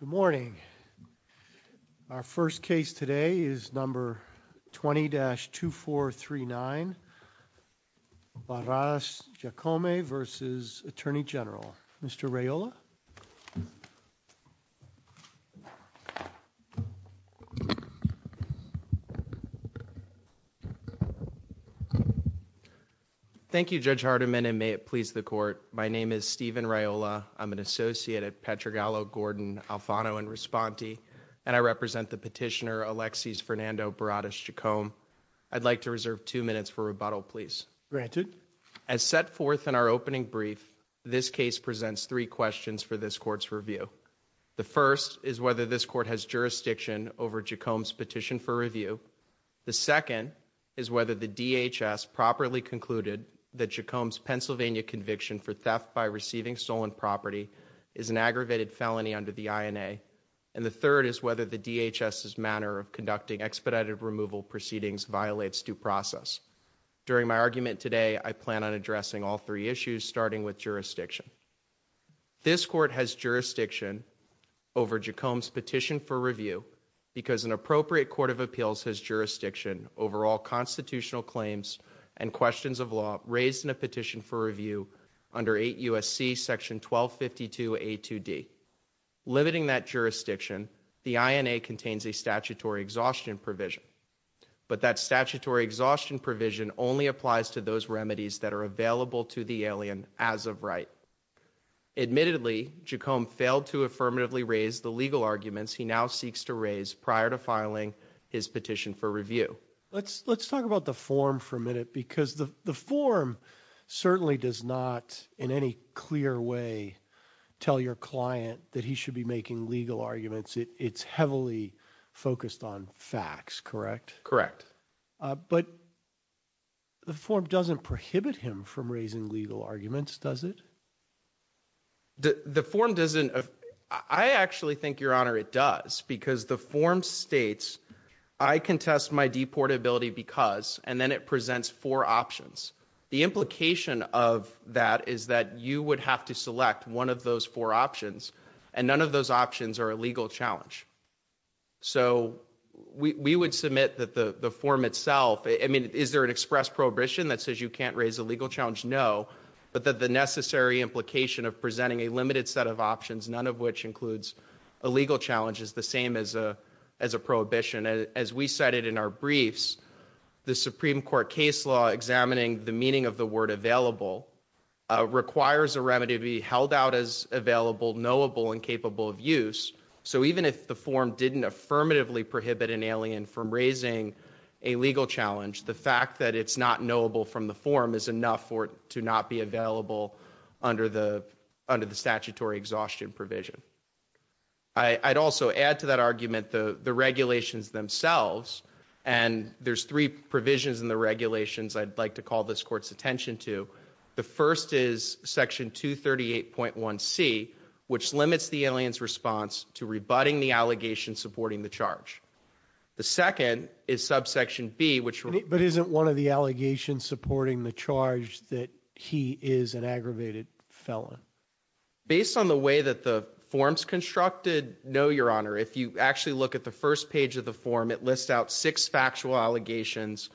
Good morning. Our first case today is number 20-2439 Barras Giacome versus Attorney General, Mr. Raiola. Thank you, Judge Hardiman and may it please the court. My name is Steven Gallo, Gordon, Alfano, and Responte and I represent the petitioner Alexis Fernando Barras Giacome. I'd like to reserve two minutes for rebuttal, please. Granted. As set forth in our opening brief, this case presents three questions for this court's review. The first is whether this court has jurisdiction over Giacome's petition for review. The second is whether the DHS properly concluded that Giacome's Pennsylvania conviction for theft by receiving stolen property is an aggravated felony under the INA, and the third is whether the DHS's manner of conducting expedited removal proceedings violates due process. During my argument today, I plan on addressing all three issues starting with jurisdiction. This court has jurisdiction over Giacome's petition for review because an appropriate court of appeals has jurisdiction over all constitutional claims and questions of law raised in a petition for review under 8 U.S.C. Section 1252 A.2.D. Limiting that jurisdiction, the INA contains a statutory exhaustion provision, but that statutory exhaustion provision only applies to those remedies that are available to the alien as of right. Admittedly, Giacome failed to affirmatively raise the legal arguments he now seeks to raise prior to filing his petition for review. Let's let's talk about the form for a minute because the the form certainly does not in any clear way tell your client that he should be making legal arguments. It's heavily focused on facts, correct? Correct. But the form doesn't prohibit him from raising legal arguments, does it? The form doesn't. I actually think, Your Honor, it does because the form states, I contest my deportability because, and then it one of those four options, and none of those options are a legal challenge. So we would submit that the the form itself, I mean, is there an express prohibition that says you can't raise a legal challenge? No, but that the necessary implication of presenting a limited set of options, none of which includes a legal challenge, is the same as a as a prohibition. As we cited in our briefs, the Supreme Court case law examining the meaning of the word available requires a remedy to be held out as available, knowable, and capable of use. So even if the form didn't affirmatively prohibit an alien from raising a legal challenge, the fact that it's not knowable from the form is enough for it to not be available under the under the statutory exhaustion provision. I'd also add to that argument the the regulations themselves, and there's three provisions in the regulations I'd like to call this court's attention to. The first is section 238.1 C, which limits the alien's response to rebutting the allegation supporting the charge. The second is subsection B, which... But isn't one of the allegations supporting the charge that he is an aggravated felon? Based on the way that the form's constructed, no, your honor. If you actually look at the first page of the form, it lists out six factual allegations,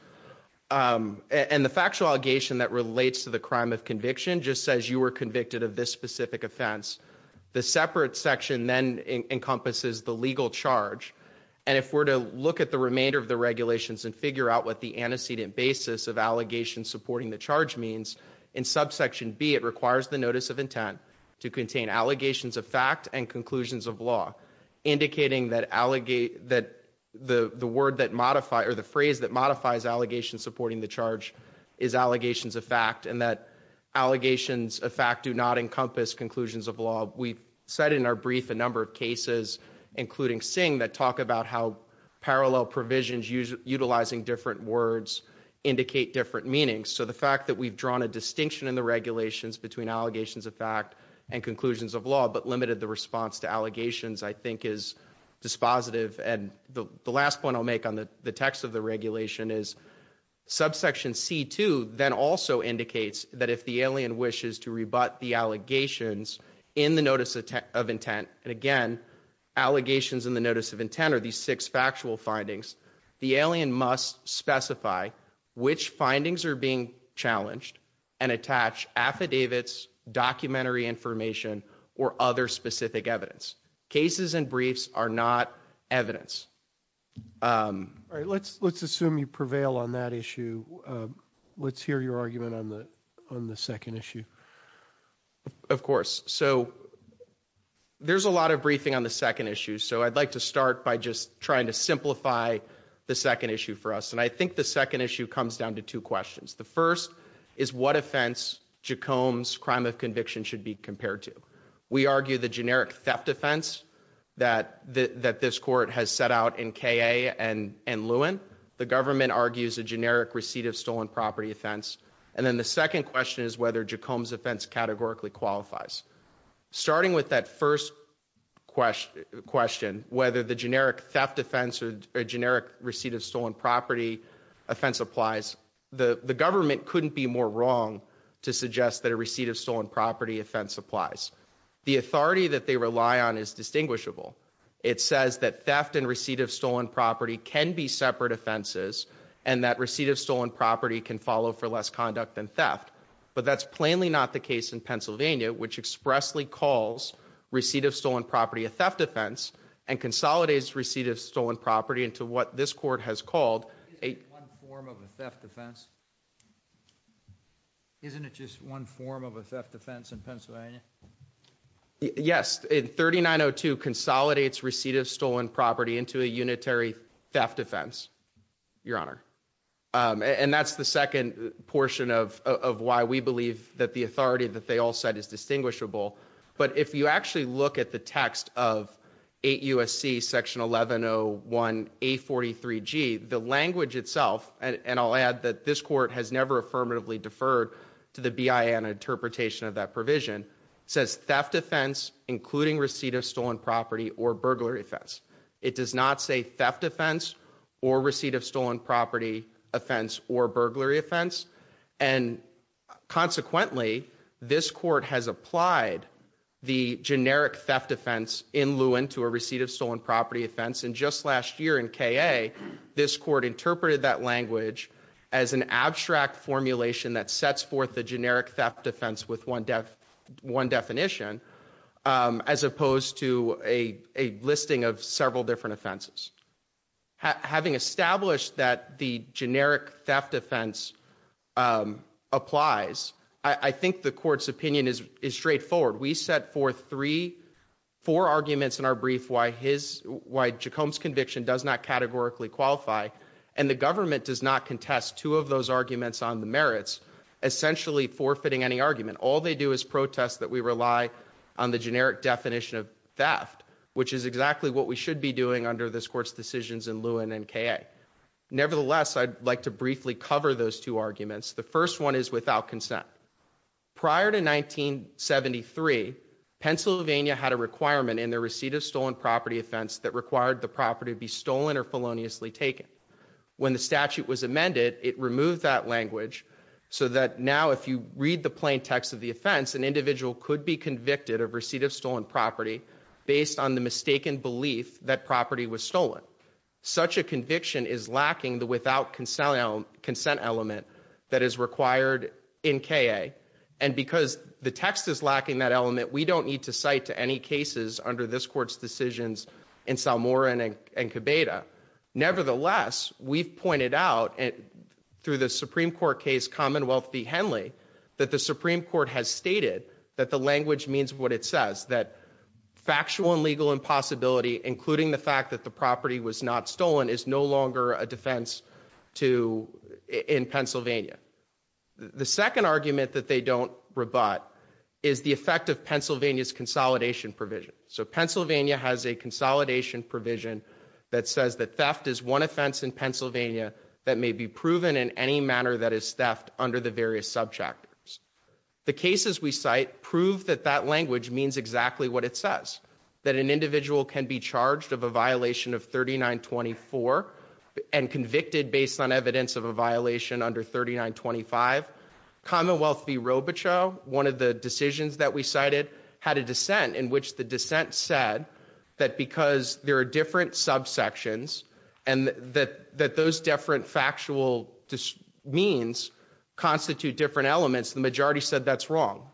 and the factual allegation that relates to the crime of conviction just says you were convicted of this specific offense. The separate section then encompasses the legal charge, and if we're to look at the remainder of the regulations and figure out what the antecedent basis of allegations supporting the charge means, in subsection B it requires the notice of intent to contain allegations of fact and conclusions of law, indicating that the word that modify or the phrase that modifies allegations supporting the charge is allegations of fact, and that allegations of fact do not encompass conclusions of law. We've said in our brief a number of cases, including Singh, that talk about how parallel provisions utilizing different words indicate different meanings. So the fact that we've drawn a distinction in the regulations between allegations of fact and conclusions of law, but limited the response to allegations, I think is dispositive. And the last point I'll make on the text of the regulation is subsection C2 then also indicates that if the alien wishes to rebut the allegations in the notice of intent, and again, allegations in the notice of intent are these six factual findings, the alien must specify which findings are being challenged and attach affidavits, documentary information, or other specific evidence. Cases and briefs are not evidence. Let's assume you prevail on that issue. Let's hear your argument on the on the second issue. Of course. So there's a lot of briefing on the second issue, so I'd like to start by just trying to simplify the second issue for us. And I think the second issue comes down to two questions. The first is what offense Jacobs' crime of conviction should be compared to. We argue the that this court has set out in K.A. and Lewin. The government argues a generic receipt of stolen property offense. And then the second question is whether Jacobs' offense categorically qualifies. Starting with that first question, whether the generic theft offense or generic receipt of stolen property offense applies, the government couldn't be more wrong to suggest that a receipt of stolen property offense applies. The authority that they rely on is distinguishable. It says that theft and receipt of stolen property can be separate offenses and that receipt of stolen property can follow for less conduct than theft. But that's plainly not the case in Pennsylvania, which expressly calls receipt of stolen property a theft offense and consolidates receipt of stolen property into what this court has called a form of a theft offense in Pennsylvania. Yes, 3902 consolidates receipt of stolen property into a unitary theft offense, Your Honor. And that's the second portion of why we believe that the authority that they all said is distinguishable. But if you actually look at the text of 8 U.S.C. section 1101 A43G, the language itself, and I'll add that this court has never affirmatively deferred to the BIA in interpretation of that provision, says theft offense, including receipt of stolen property or burglary offense. It does not say theft offense or receipt of stolen property offense or burglary offense. And consequently, this court has applied the generic theft offense in Lewin to a receipt of stolen property offense. And just last year in K. A. This court interpreted that language as an unitary theft offense with one definition, as opposed to a listing of several different offenses. Having established that the generic theft offense applies, I think the court's opinion is straightforward. We set forth three, four arguments in our brief why his, why Jacobs conviction does not categorically qualify, and the government does not contest two of those arguments on the All they do is protest that we rely on the generic definition of theft, which is exactly what we should be doing under this court's decisions in Lewin and K. A. Nevertheless, I'd like to briefly cover those two arguments. The first one is without consent. Prior to 1973, Pennsylvania had a requirement in the receipt of stolen property offense that required the property be stolen or feloniously taken. When the statute was amended, it removed that language so that now, if you read the plain text of the offense, an individual could be convicted of receipt of stolen property based on the mistaken belief that property was stolen. Such a conviction is lacking the without consent element that is required in K. A. And because the text is lacking that element, we don't need to cite to any cases under this court's decisions in Salmora and Cabeda. Nevertheless, we've pointed out through the Supreme Court case commonwealth the Henley that the Supreme Court has stated that the language means what it says that factual and legal impossibility, including the fact that the property was not stolen, is no longer a defense to in Pennsylvania. The second argument that they don't rebut is the effect of Pennsylvania's consolidation provision. So Pennsylvania has a consolidation provision that says that theft is one offense in Pennsylvania that may be under the various subchapters. The cases we cite prove that that language means exactly what it says, that an individual can be charged of a violation of 39 24 and convicted based on evidence of a violation under 39 25 Commonwealth. The Robichaux, one of the decisions that we cited, had a dissent in which the dissent said that because there are different subsections and that those different factual means constitute different elements, the majority said that's wrong.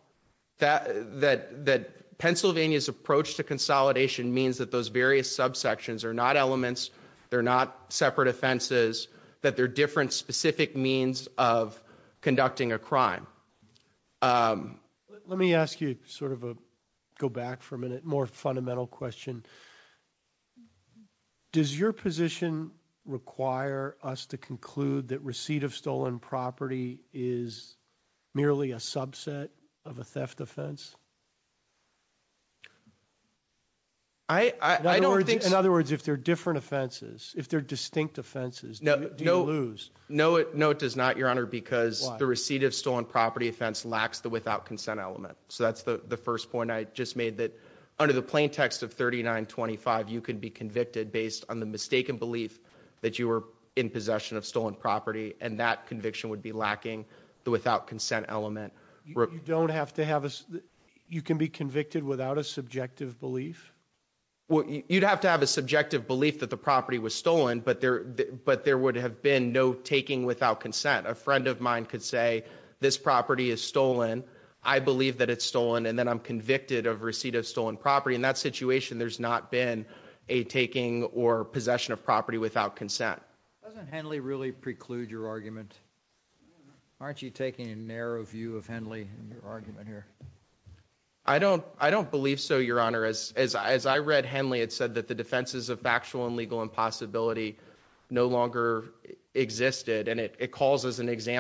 That Pennsylvania's approach to consolidation means that those various subsections are not elements, they're not separate offenses, that they're different specific means of conducting a crime. Let me ask you sort of a, go back for a minute, more fundamental question. Does your position require us to conclude that receipt of stolen property is merely a subset of a theft offense? I don't think so. In other words, if they're different offenses, if they're distinct offenses, do you lose? No, no it does not, your honor, because the receipt of stolen property offense lacks the without-consent element. So that's the first point I just made, that under the mistaken belief that you were in possession of stolen property, and that conviction would be lacking the without-consent element. You don't have to have a, you can be convicted without a subjective belief? Well, you'd have to have a subjective belief that the property was stolen, but there would have been no taking without consent. A friend of mine could say, this property is stolen, I believe that it's stolen, and then I'm convicted of receipt of stolen property. In that situation, there's not been a taking or possession of property without consent. Doesn't Henley really preclude your argument? Aren't you taking a narrow view of Henley in your argument here? I don't, I don't believe so, your honor. As I read Henley, it said that the defenses of factual and legal impossibility no longer existed, and it calls as an Let me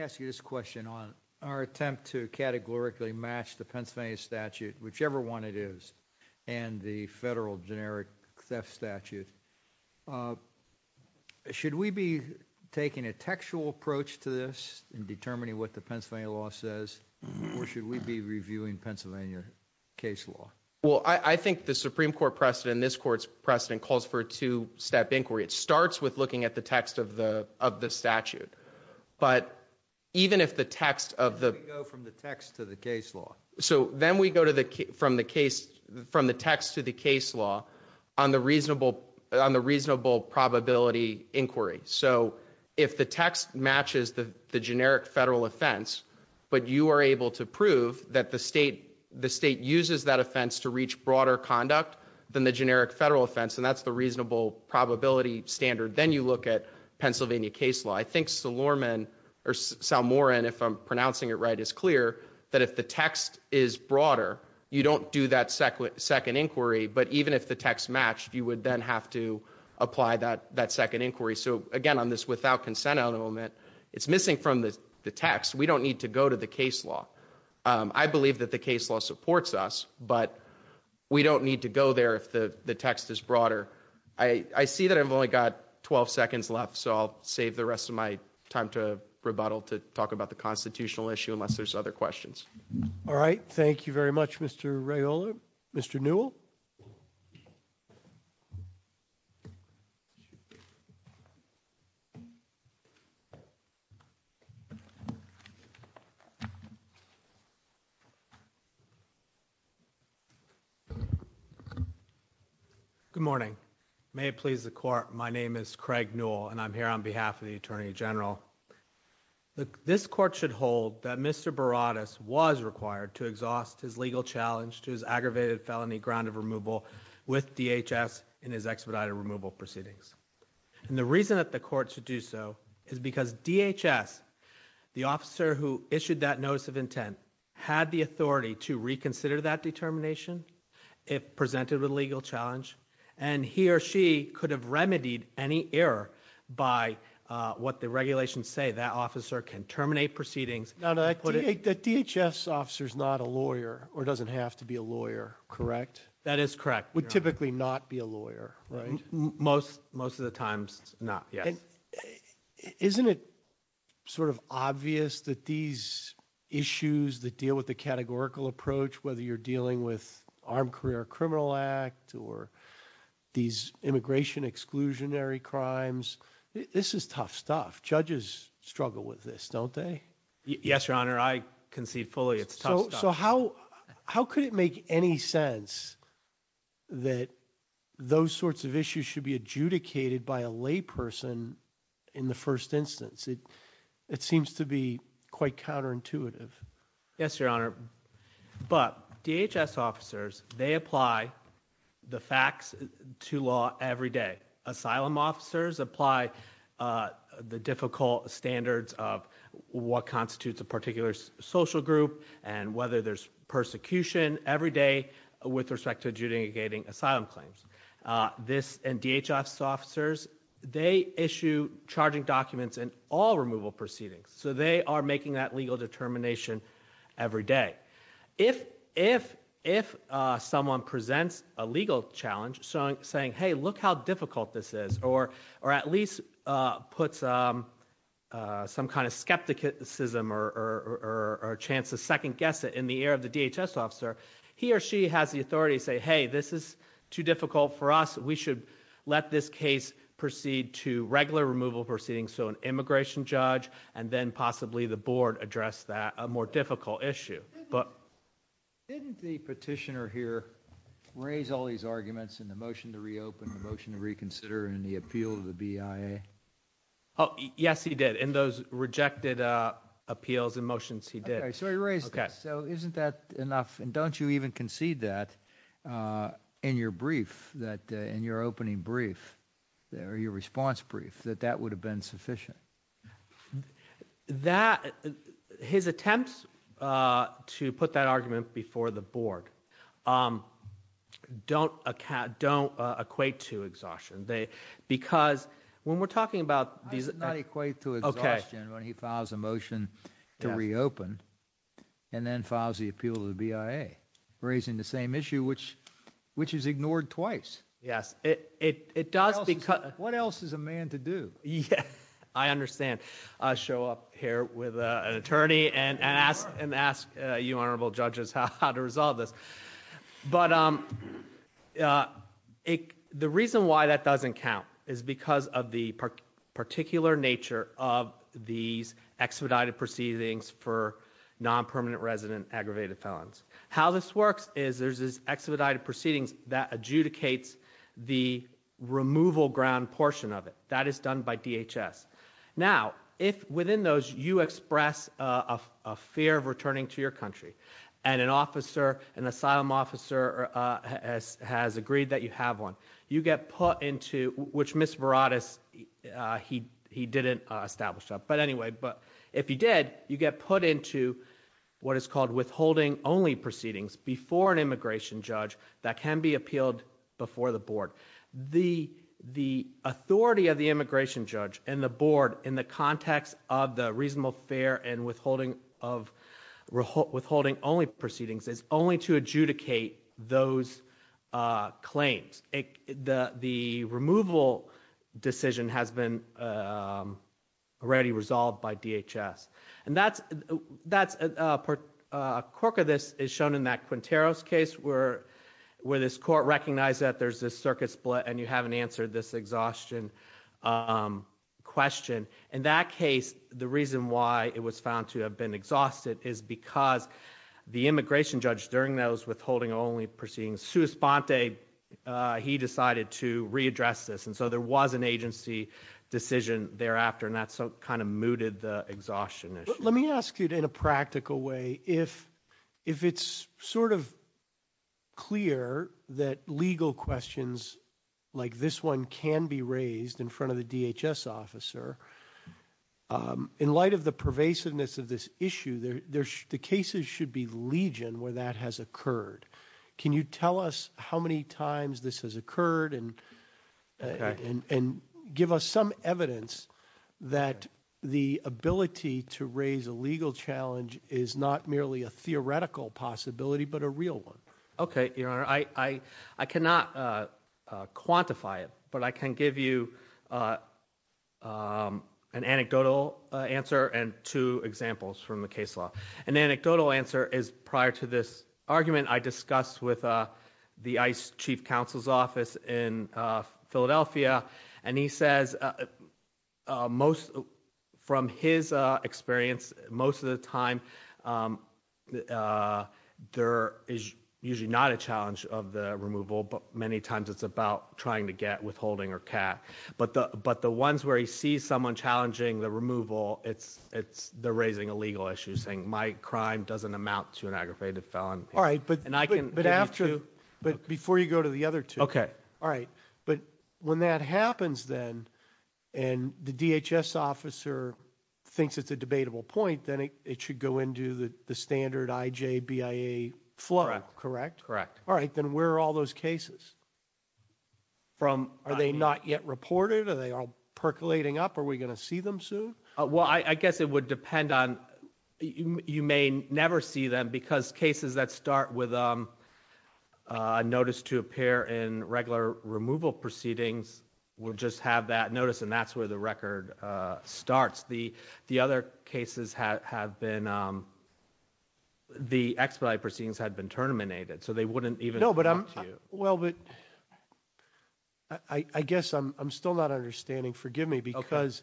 ask you this question on our attempt to categorically match the Pennsylvania statute, whichever one it is, and the federal generic theft statute. Should we be taking a textual approach to this in determining what the Pennsylvania law says, or should we be reviewing Pennsylvania case law? Well, I think the Supreme Court precedent, this court's precedent, calls for a two-step inquiry. It starts with looking at the text of the of the statute, but even if the text of the... Then we go from the text to the case law. So then we go to the, from the case, from the text to the case law, on the reasonable, on the reasonable probability inquiry. So if the text matches the the generic federal offense, but you are able to prove that the state, the state uses that offense to reach broader conduct than the generic federal offense, and that's the reasonable probability standard, then you look at Pennsylvania case law. I think Salorman, or Salmoran, if I'm pronouncing it right, is clear that if the text is broader, you don't do that second inquiry, but even if the text matched, you would then have to apply that that second inquiry. So again, on this without consent element, it's missing from the text. We don't need to go to the case law. I believe that the case law supports us, but we don't need to go there if the I see that I've only got 12 seconds left, so I'll save the rest of my time to rebuttal, to talk about the constitutional issue, unless there's other questions. All right. Thank you very much, Mr. Raola. Mr. Newell. Mhm. Good morning. May it please the court. My name is Craig Newell and I'm here on behalf of the attorney general. This court should hold that Mr Baradas was required to exhaust his legal challenge to his aggravated felony ground of removal with DHS in his expedited removal proceedings. And the reason that the court should do so is because DHS, the officer who issued that notice of intent, had the authority to reconsider that determination if presented with legal challenge. And he or she could have remedied any error by what the regulations say. That officer can terminate proceedings. The DHS officer is not a lawyer or doesn't have to be a lawyer, correct? That is correct. Would typically not be a lawyer, right? Most, most of the times not. Yes. Isn't it sort of obvious that these issues that deal with the categorical approach, whether you're dealing with armed career criminal act or these immigration exclusionary crimes, this is tough stuff. Judges struggle with this, don't they? Yes, your honor. I concede fully. It's so, so how, how could it make any sense that those sorts of issues should be adjudicated by a lay person in the first instance? It, it seems to be quite counterintuitive. Yes, your honor. But DHS officers, they apply the facts to law every day. Asylum officers apply, uh, the difficult standards of what constitutes a particular social group and whether there's persecution every day with respect to adjudicating asylum claims. Uh, this and DHS officers, they issue charging documents and all removal proceedings. So they are making that legal determination every day. If, if, if someone presents a legal challenge saying, hey, look how difficult this is or, or at least, uh, puts, um, uh, some kind of skepticism or, or, or a chance to second guess it in the air of the DHS officer, he or she has the authority to say, hey, this is too difficult for us. We should let this case proceed to regular removal proceeding. So an immigration judge and then possibly the board address that a more difficult issue. But didn't the petitioner here raise all these arguments in the motion to reopen the motion to reconsider and the appeal of the BIA? Oh, yes, he did. In those rejected, uh, appeals and motions, he did. So he raised this. So isn't that enough? And don't you even concede that, uh, in your brief that in your opening brief there, your response brief that that would have been sufficient that his attempts, uh, to put that argument before the board, um, don't, uh, don't equate to exhaustion. They, because when we're talking about these, not equate to exhaustion when he files a motion to reopen and then files the appeal to the BIA raising the same issue, which, which is ignored twice. Yes, it, it, it does. Because what else is a man to do? Yeah, I understand. I'll show up here with an attorney and ask and ask you honorable judges how to resolve this. But, um, uh, the reason why that doesn't count is because of the particular nature of these expedited proceedings for non permanent resident aggravated felons. How this works is there's this expedited proceedings that adjudicates the removal ground portion of it that is done by and an officer, an asylum officer, uh, has, has agreed that you have one. You get put into which Miss Varadis, uh, he, he didn't establish that. But anyway, but if you did, you get put into what is called withholding only proceedings before an immigration judge that can be appealed before the board. The, the authority of the immigration judge and the board in the context of the holding only proceedings is only to adjudicate those, uh, claims. The, the removal decision has been, um, already resolved by DHS. And that's, that's, uh, uh, a quirk of this is shown in that Quintero's case where, where this court recognized that there's this circuit split and you haven't answered this exhaustion, um, question. In that case, the reason why it was found to have been exhausted is because the immigration judge during those withholding only proceedings, Suus Ponte, uh, he decided to readdress this. And so there was an agency decision thereafter and that's so kind of mooted the exhaustion. Let me ask you in a practical way, if, if it's sort of clear that legal questions like this one can be raised in front of the DHS officer, um, in light of the pervasiveness of this issue, the cases should be legion where that has occurred. Can you tell us how many times this has occurred and, and, and give us some evidence that the ability to raise a legal challenge is not merely a theoretical possibility, but a real one? Okay. Your Honor, I, I, I cannot, uh, but I can give you, uh, um, an anecdotal answer and two examples from the case law. An anecdotal answer is prior to this argument I discussed with, uh, the ICE chief counsel's office in Philadelphia. And he says, uh, uh, most from his, uh, experience, most of the time, um, uh, there is usually not a withholding or cat, but the, but the ones where he sees someone challenging the removal, it's, it's, they're raising a legal issue saying my crime doesn't amount to an aggravated felon. All right. But, and I can, but after, but before you go to the other two, okay. All right. But when that happens then, and the DHS officer thinks it's a debatable point, then it should go into the, the standard IJBIA flow, correct? Correct. All right. Then where are all those cases? From, are they not yet reported? Are they all percolating up? Are we going to see them soon? Well, I guess it would depend on, you may never see them because cases that start with, um, uh, notice to appear in regular removal proceedings, we'll just have that notice. And that's where the record, uh, starts. The, the other cases have been, um, the expedited proceedings had been terminated. So they wouldn't even. No, but I'm, well, but I, I guess I'm, I'm still not understanding. Forgive me because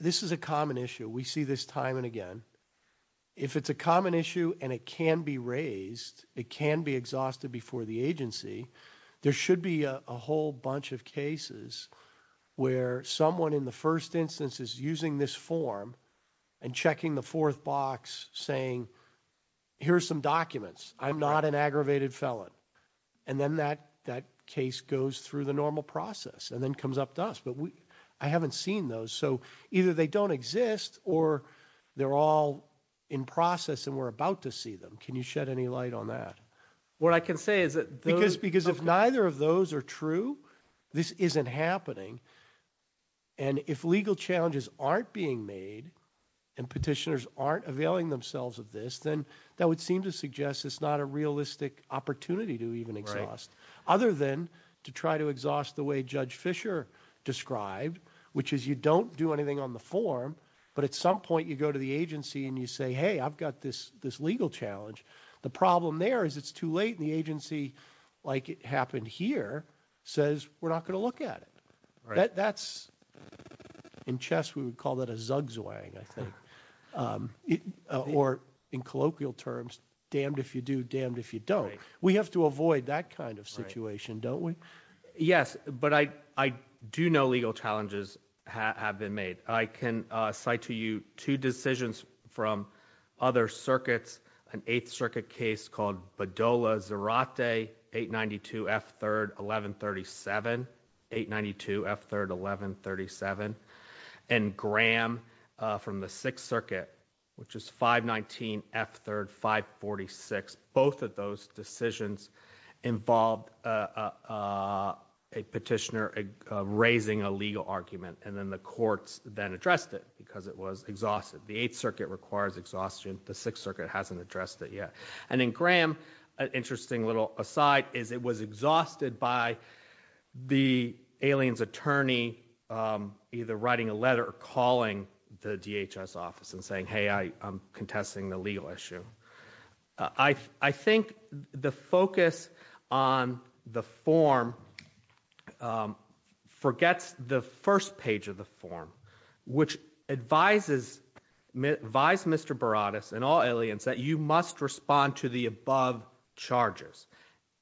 this is a common issue. We see this time and again, if it's a common issue and it can be raised, it can be exhausted before the agency. There should be a whole bunch of cases where someone in the first instance is using this form and checking the fourth box saying, here's some documents. I'm not an aggravated felon. And then that, that case goes through the normal process and then comes up to us. But I haven't seen those. So either they don't exist or they're all in process and we're about to see them. Can you shed any light on that? What I can say is that because, because if neither of those are true, this isn't happening. And if legal challenges aren't being made and petitioners aren't availing themselves of this, then that would seem to suggest it's not a realistic opportunity to even exhaust other than to try to exhaust the way judge Fisher described, which is you don't do anything on the form, but at some point you go to the agency and you say, Hey, I've got this, this legal challenge. The problem there is it's too late. And the agency, like it happened here says, we're not going to look at it. That's in chess. We would call that a zugs way, I think. Um, or in colloquial terms, damned if you do damned, if you don't, we have to avoid that kind of situation, don't we? Yes. But I, I do know legal challenges have been made. I can cite to you two decisions from other circuits, an eighth circuit case called Badola Zerate 892 F third 1137 892 F third 1137 and Graham from the sixth circuit, which is 519 F third 546. Both of those decisions involved, uh, a petitioner raising a legal argument and then the courts then addressed it because it was exhausted. The eighth circuit requires exhaustion. The sixth hasn't addressed it yet. And then Graham, an interesting little aside is it was exhausted by the aliens attorney, um, either writing a letter or calling the DHS office and saying, Hey, I, I'm contesting the legal issue. Uh, I, I think the focus on the form, um, forgets the first page of the form, which advises, advise Mr Baradas and all aliens that you must respond to the above charges,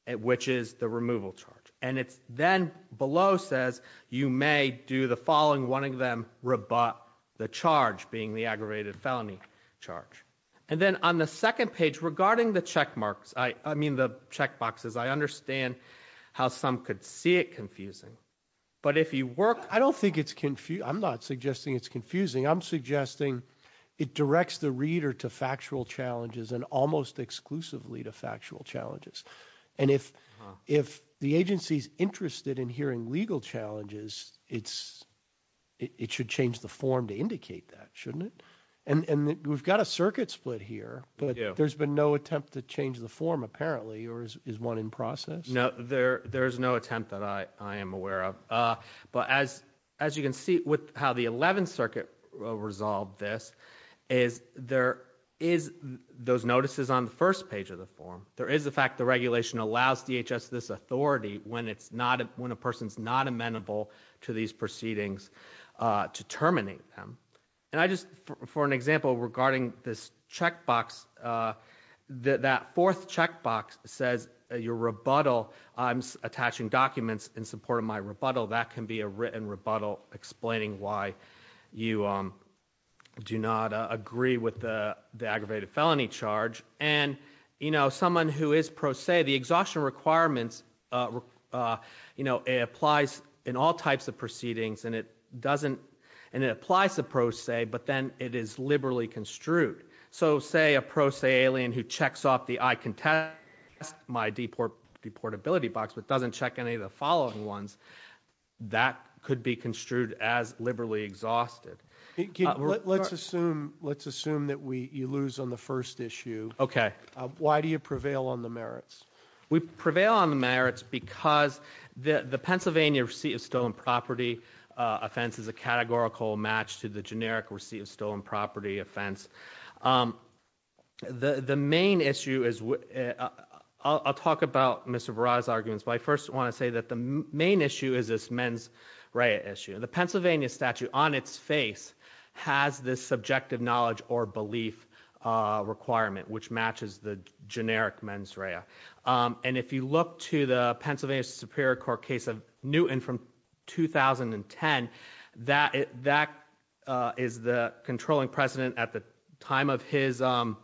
which is the removal charge. And it's then below says you may do the following, wanting them rebut the charge being the aggravated felony charge. And then on the second page regarding the check marks, I mean the check boxes, I understand how some could see it confusing, but if you work, I don't think it's confused. I'm not suggesting it's confusing. I'm suggesting it directs the reader to factual challenges and almost exclusively to factual challenges. And if, if the agency's interested in hearing legal challenges, it's, it should change the form to indicate that shouldn't it? And, and we've got a circuit split here, but there's been no attempt to change the form apparently, or is one in process? No, there, there is no attempt that I, I am aware of. Uh, but as, as you can see with how the 11th circuit resolved, this is, there is those notices on the first page of the form. There is the fact the regulation allows DHS this authority when it's not, when a person's not amenable to these proceedings, uh, to terminate them. And I just, for an example regarding this checkbox, uh, that fourth checkbox says your rebuttal, I'm attaching documents in support of my rebuttal. That can be a written rebuttal explaining why you, um, do not agree with the, the aggravated felony charge. And, you know, someone who is pro se, the exhaustion requirements, uh, uh, you know, it applies in all types of proceedings and it doesn't, and it applies to pro se, but then it is liberally construed. So say a pro se alien who checks off the I can test my deport, deportability box, but doesn't check any of the following ones that could be construed as liberally exhausted. Let's assume, let's assume that we, you lose on the first issue. Okay. Why do you prevail on the merits? We prevail on the merits because the, the Pennsylvania receipt of stolen property offense is a categorical match to the generic receipt of stolen property offense. Um, the, the main issue is, uh, I'll talk about Mr Varada's arguments, but I first want to say that the main issue is this mens rea issue. The Pennsylvania statute on its face has this subjective knowledge or belief requirement which matches the generic mens rea. Um, and if you look to the Pennsylvania Superior Court case of Newton from 2010, that that is the controlling president at the time of his, um,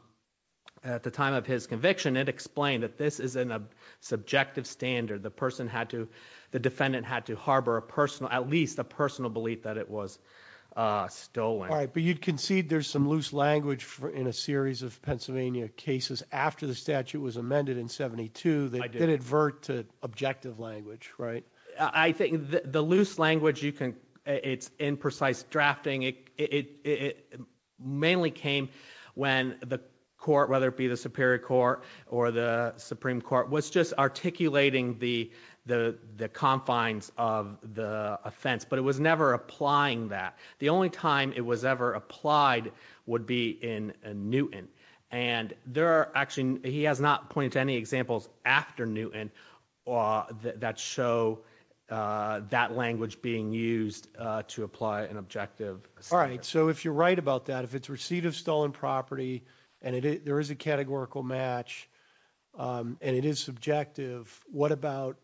at the time of his conviction, it explained that this is in a subjective standard. The person had to, the defendant had to harbor a personal, at least a personal belief that it was, uh, stolen. But you concede there's some loose language in a statute was amended in 72 that did advert to objective language, right? I think the loose language you can, it's imprecise drafting. It, it, it mainly came when the court, whether it be the Superior Court or the Supreme Court, was just articulating the, the, the confines of the offense, but it was never applying that. The only time it was ever applied would be in Newton. And there are actually, he has not pointed to any examples after Newton, uh, that show, uh, that language being used to apply an objective. All right. So if you're right about that, if it's receipt of stolen property and there is a categorical match, um, and it is subjective, what about,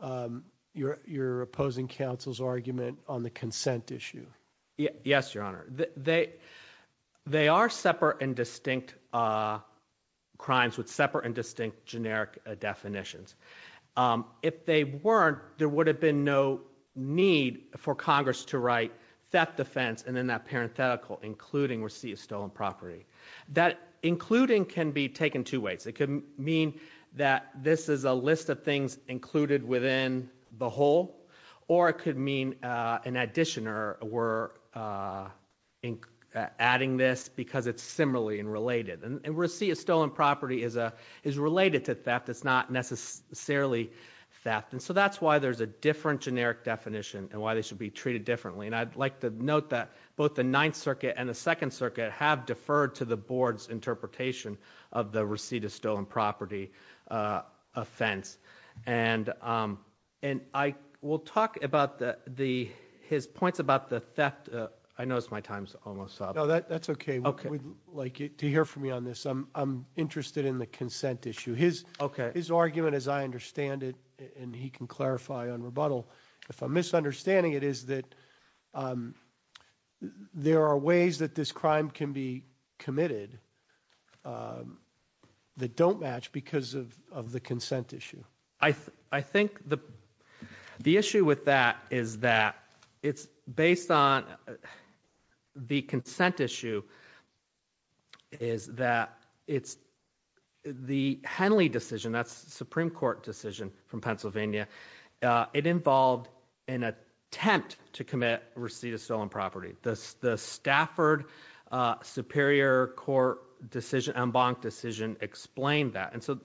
um, your, your opposing counsel's argument on the consent issue? Yes, Your Honor. They, they are separate and distinct, uh, crimes with separate and distinct generic definitions. Um, if they weren't, there would have been no need for Congress to write theft offense and then that parenthetical, including receipt of stolen property. That including can be taken two ways. It could mean that this is a list of things included within the whole, or it adding this because it's similarly and related and receipt of stolen property is a, is related to theft. It's not necessarily theft. And so that's why there's a different generic definition and why they should be treated differently. And I'd like to note that both the Ninth Circuit and the Second Circuit have deferred to the board's interpretation of the receipt of stolen property, uh, offense. And, um, and I will talk about the, the, his points about the theft. I noticed my time's almost up. That's okay. Okay. Like to hear from you on this. I'm interested in the consent issue. His, his argument as I understand it, and he can clarify on rebuttal if I'm misunderstanding it is that, um, there are ways that this crime can be committed, um, that don't match because of, of the consent issue. I, I think the, the issue with that is that it's based on the consent issue is that it's the Henley decision. That's the Supreme Court decision from Pennsylvania. Uh, it involved an attempt to commit receipt of stolen property. The Stafford Superior Court decision Embank decision explained that. And so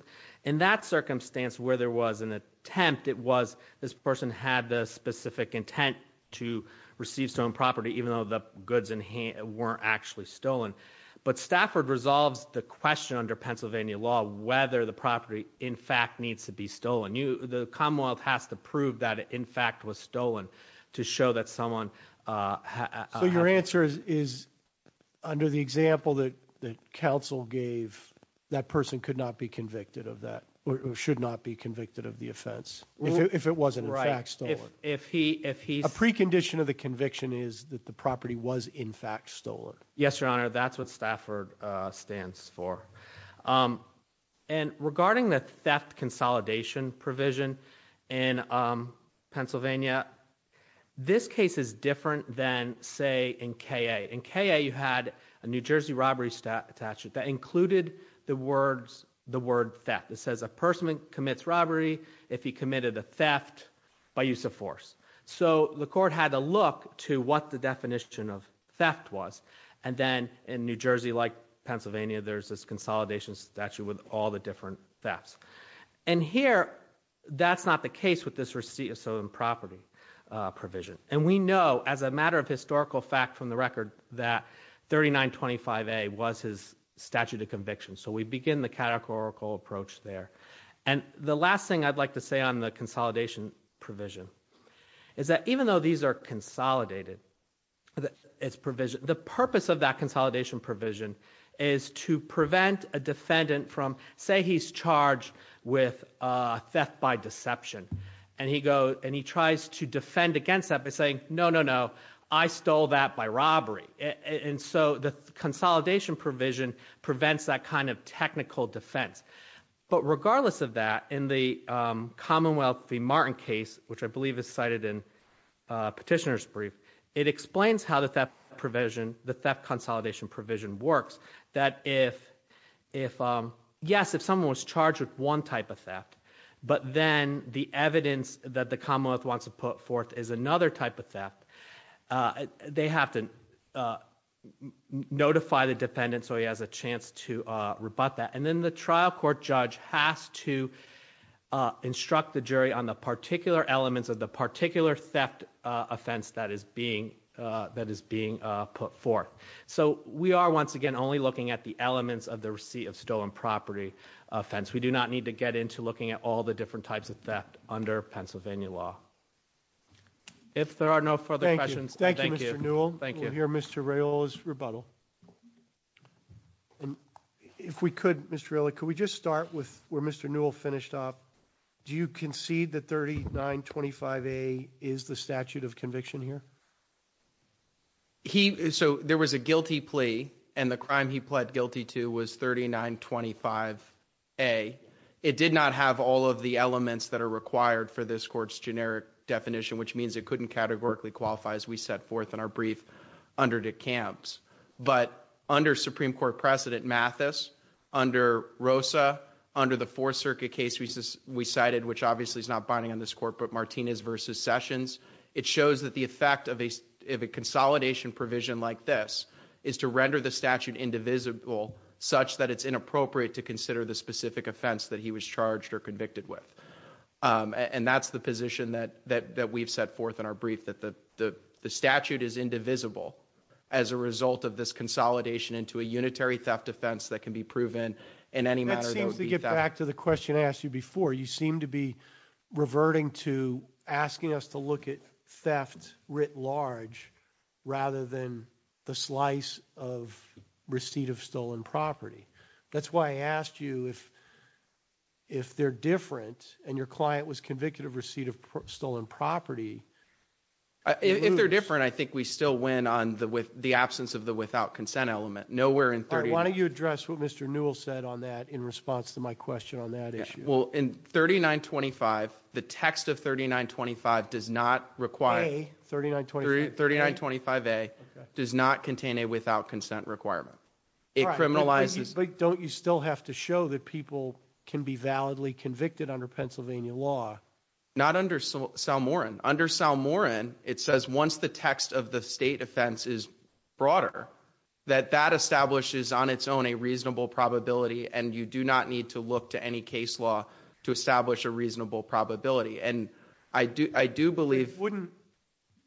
in that circumstance where there was an attempt, it was this person had the specific intent to receive some property even though the goods in hand weren't actually stolen. But Stafford resolves the question under Pennsylvania law whether the property in fact needs to be stolen. You, the Commonwealth has to prove that in fact was stolen to show that someone, uh, so your answer is, is under the example that, that counsel gave that person could not be convicted of that or should not be convicted of the offense if it wasn't right. If he, if he's a precondition of the conviction is that the property was in fact stolen. Yes, your honor. That's what Stafford stands for. Um, and regarding the theft consolidation provision in, um, Pennsylvania, this case is different than say in K. A. In K. A. You had a New Jersey robbery statute that included the words, the word theft. It if he committed a theft by use of force. So the court had to look to what the definition of theft was. And then in New Jersey, like Pennsylvania, there's this consolidation statute with all the different thefts. And here that's not the case with this receipt of stolen property provision. And we know as a matter of historical fact from the record that 39 25 a was his statute of conviction. So we begin the categorical approach there. And the last thing I'd like to say on the consolidation provision is that even though these are consolidated, it's provision, the purpose of that consolidation provision is to prevent a defendant from say he's charged with theft by deception and he go and he tries to defend against that by saying no, no, no, I stole that by robbery. And so the consolidation provision prevents that kind of commonwealth the martin case, which I believe is cited in petitioner's brief. It explains how that that provision, the theft consolidation provision works that if if um yes, if someone was charged with one type of theft, but then the evidence that the commonwealth wants to put forth is another type of theft. Uh they have to uh notify the defendant so he has a chance to rebut that. And then the trial court judge has to uh instruct the jury on the particular elements of the particular theft offense that is being uh that is being put forth. So we are once again only looking at the elements of the receipt of stolen property offense. We do not need to get into looking at all the different types of theft under pennsylvania law. If there are no further questions, thank you. Thank you. Mr Ray oil is rebuttal. Yeah. And if we could Mr really, could we just start with where Mr Newell finished off? Do you concede that 39 25 a is the statute of conviction here? He, so there was a guilty plea and the crime he pled guilty to was 39 25 a. It did not have all of the elements that are required for this court's generic definition, which means it couldn't categorically qualify as we set forth in our brief under the camps. But under Supreme Court precedent Mathis under Rosa, under the fourth circuit case we cited, which obviously is not binding on this court, but Martinez versus sessions, it shows that the effect of a consolidation provision like this is to render the statute indivisible such that it's inappropriate to consider the specific offense that he was charged or convicted with. Um and that's the position that that we've set forth in our brief that the statute is indivisible as a result of this consolidation into a unitary theft offense that can be proven in any matter. That seems to get back to the question I asked you before. You seem to be reverting to asking us to look at theft writ large rather than the slice of receipt of stolen property. That's why I asked you if if they're different and your client was convicted of receipt of stolen property. If they're different I think we still win on the with the absence of the without consent element. Nowhere in 30. Why don't you address what Mr. Newell said on that in response to my question on that issue. Well in 3925 the text of 3925 does not require. 3925? 3925a does not contain a without consent requirement. It criminalizes. But don't you still have to show that people can be validly Pennsylvania law? Not under Sal Moran. Under Sal Moran it says once the text of the state offense is broader that that establishes on its own a reasonable probability and you do not need to look to any case law to establish a reasonable probability. And I do I do believe. Wouldn't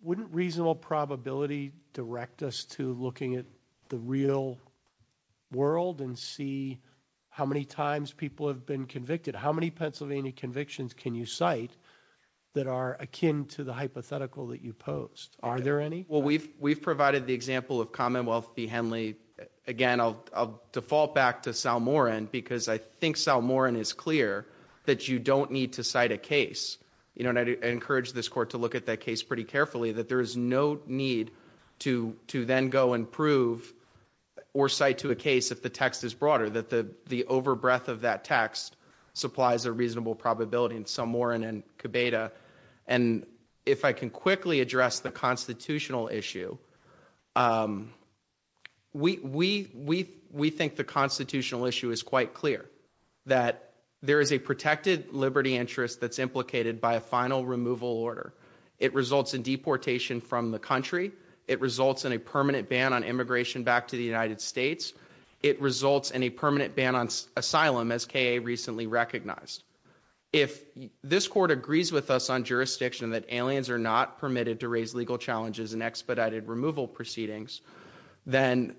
wouldn't reasonable probability direct us to looking at the real world and see how many times people have been convicted. How many Pennsylvania convictions can you cite that are akin to the hypothetical that you posed? Are there any? Well we've we've provided the example of Commonwealth v. Henley. Again I'll default back to Sal Moran because I think Sal Moran is clear that you don't need to cite a case. You know and I encourage this court to look at that case pretty carefully that there is no need to to then go and prove or cite to a case if the text is broader. That the the over breadth of that text supplies a reasonable probability in Sal Moran and Cabeda. And if I can quickly address the constitutional issue we we we we think the constitutional issue is quite clear. That there is a protected liberty interest that's implicated by a final removal order. It results in deportation from the country. It results in a permanent ban on asylum as KA recently recognized. If this court agrees with us on jurisdiction that aliens are not permitted to raise legal challenges and expedited removal proceedings, then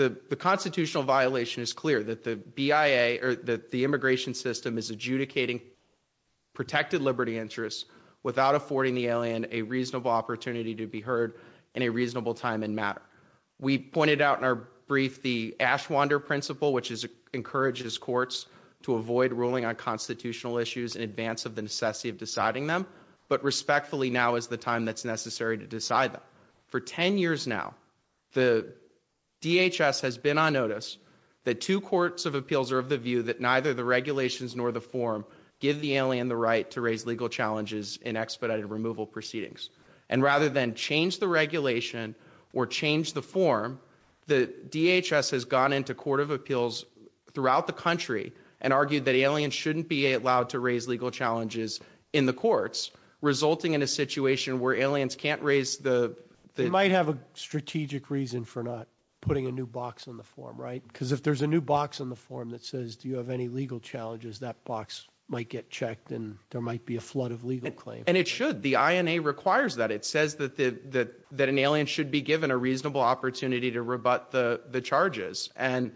the the constitutional violation is clear. That the BIA or that the immigration system is adjudicating protected liberty interests without affording the alien a reasonable opportunity to be heard in a reasonable time and matter. We pointed out in our brief the Ashwander principle which is encourages courts to avoid ruling on constitutional issues in advance of the necessity of deciding them. But respectfully now is the time that's necessary to decide them. For 10 years now the DHS has been on notice that two courts of appeals are of the view that neither the regulations nor the form give the alien the right to raise legal challenges in expedited removal proceedings. And rather than change the regulation or change the form the DHS has gone into court of appeals throughout the country and argued that aliens shouldn't be allowed to raise legal challenges in the courts resulting in a situation where aliens can't raise the... They might have a strategic reason for not putting a new box on the form right? Because if there's a new box on the form that says do you have any legal challenges that box might get checked and there might be a flood of legal claims. And it should. The INA requires that. It says that that that an alien should be given a reasonable opportunity to rebut the charges. And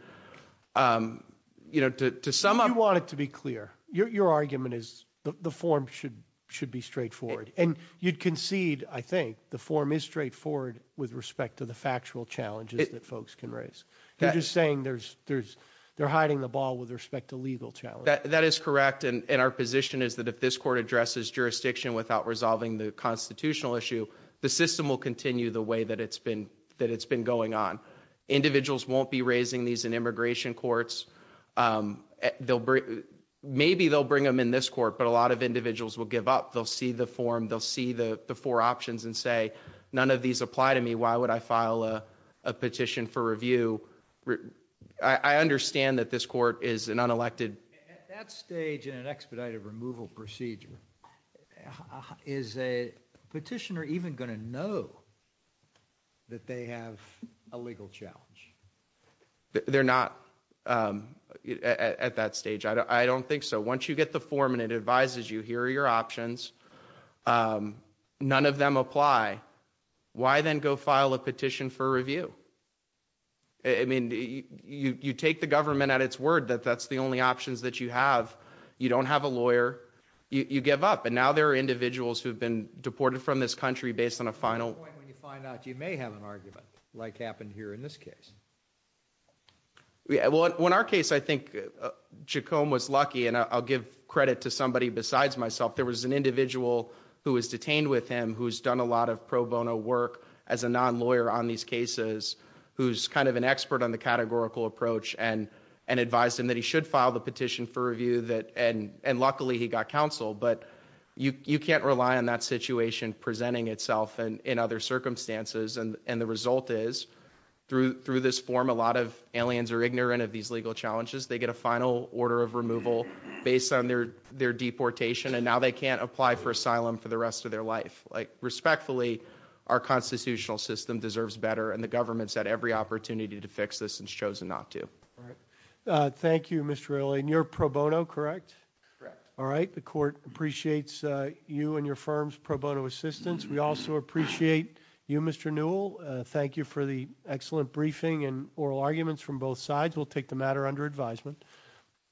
you know to sum up... You want it to be clear. Your argument is the form should should be straightforward. And you'd concede I think the form is straightforward with respect to the factual challenges that folks can raise. You're just saying there's there's they're hiding the ball with respect to legal challenges. That is correct. And our position is that if this court addresses jurisdiction without resolving the constitutional issue the system will continue the way that it's been that it's been going on. Individuals won't be raising these in immigration courts. They'll bring maybe they'll bring them in this court but a lot of individuals will give up. They'll see the form. They'll see the four options and say none of these apply to me. Why would I file a petition for review? I understand that this court is an unelected... At that stage in an expedited removal procedure is a They're not at that stage. I don't think so. Once you get the form and it advises you here are your options. None of them apply. Why then go file a petition for review? I mean you you take the government at its word that that's the only options that you have. You don't have a lawyer. You give up. And now there are individuals who have been deported from this country based on a final... Yeah well in our case I think Jacome was lucky and I'll give credit to somebody besides myself. There was an individual who was detained with him who's done a lot of pro bono work as a non-lawyer on these cases who's kind of an expert on the categorical approach and and advised him that he should file the petition for review that and and luckily he got counsel but you you can't rely on that situation presenting itself and in other circumstances and and the result is through through this form a lot of aliens are ignorant of these legal challenges. They get a final order of removal based on their their deportation and now they can't apply for asylum for the rest of their life. Like respectfully our constitutional system deserves better and the government's had every opportunity to fix this and chosen not to. Thank you Mr. Ailey and you're pro bono correct? Correct. All right the court appreciates you and your firm's pro bono assistance. We also appreciate you Mr. Newell. Thank you for the excellent briefing and oral arguments from both sides. We'll take the matter under advisement.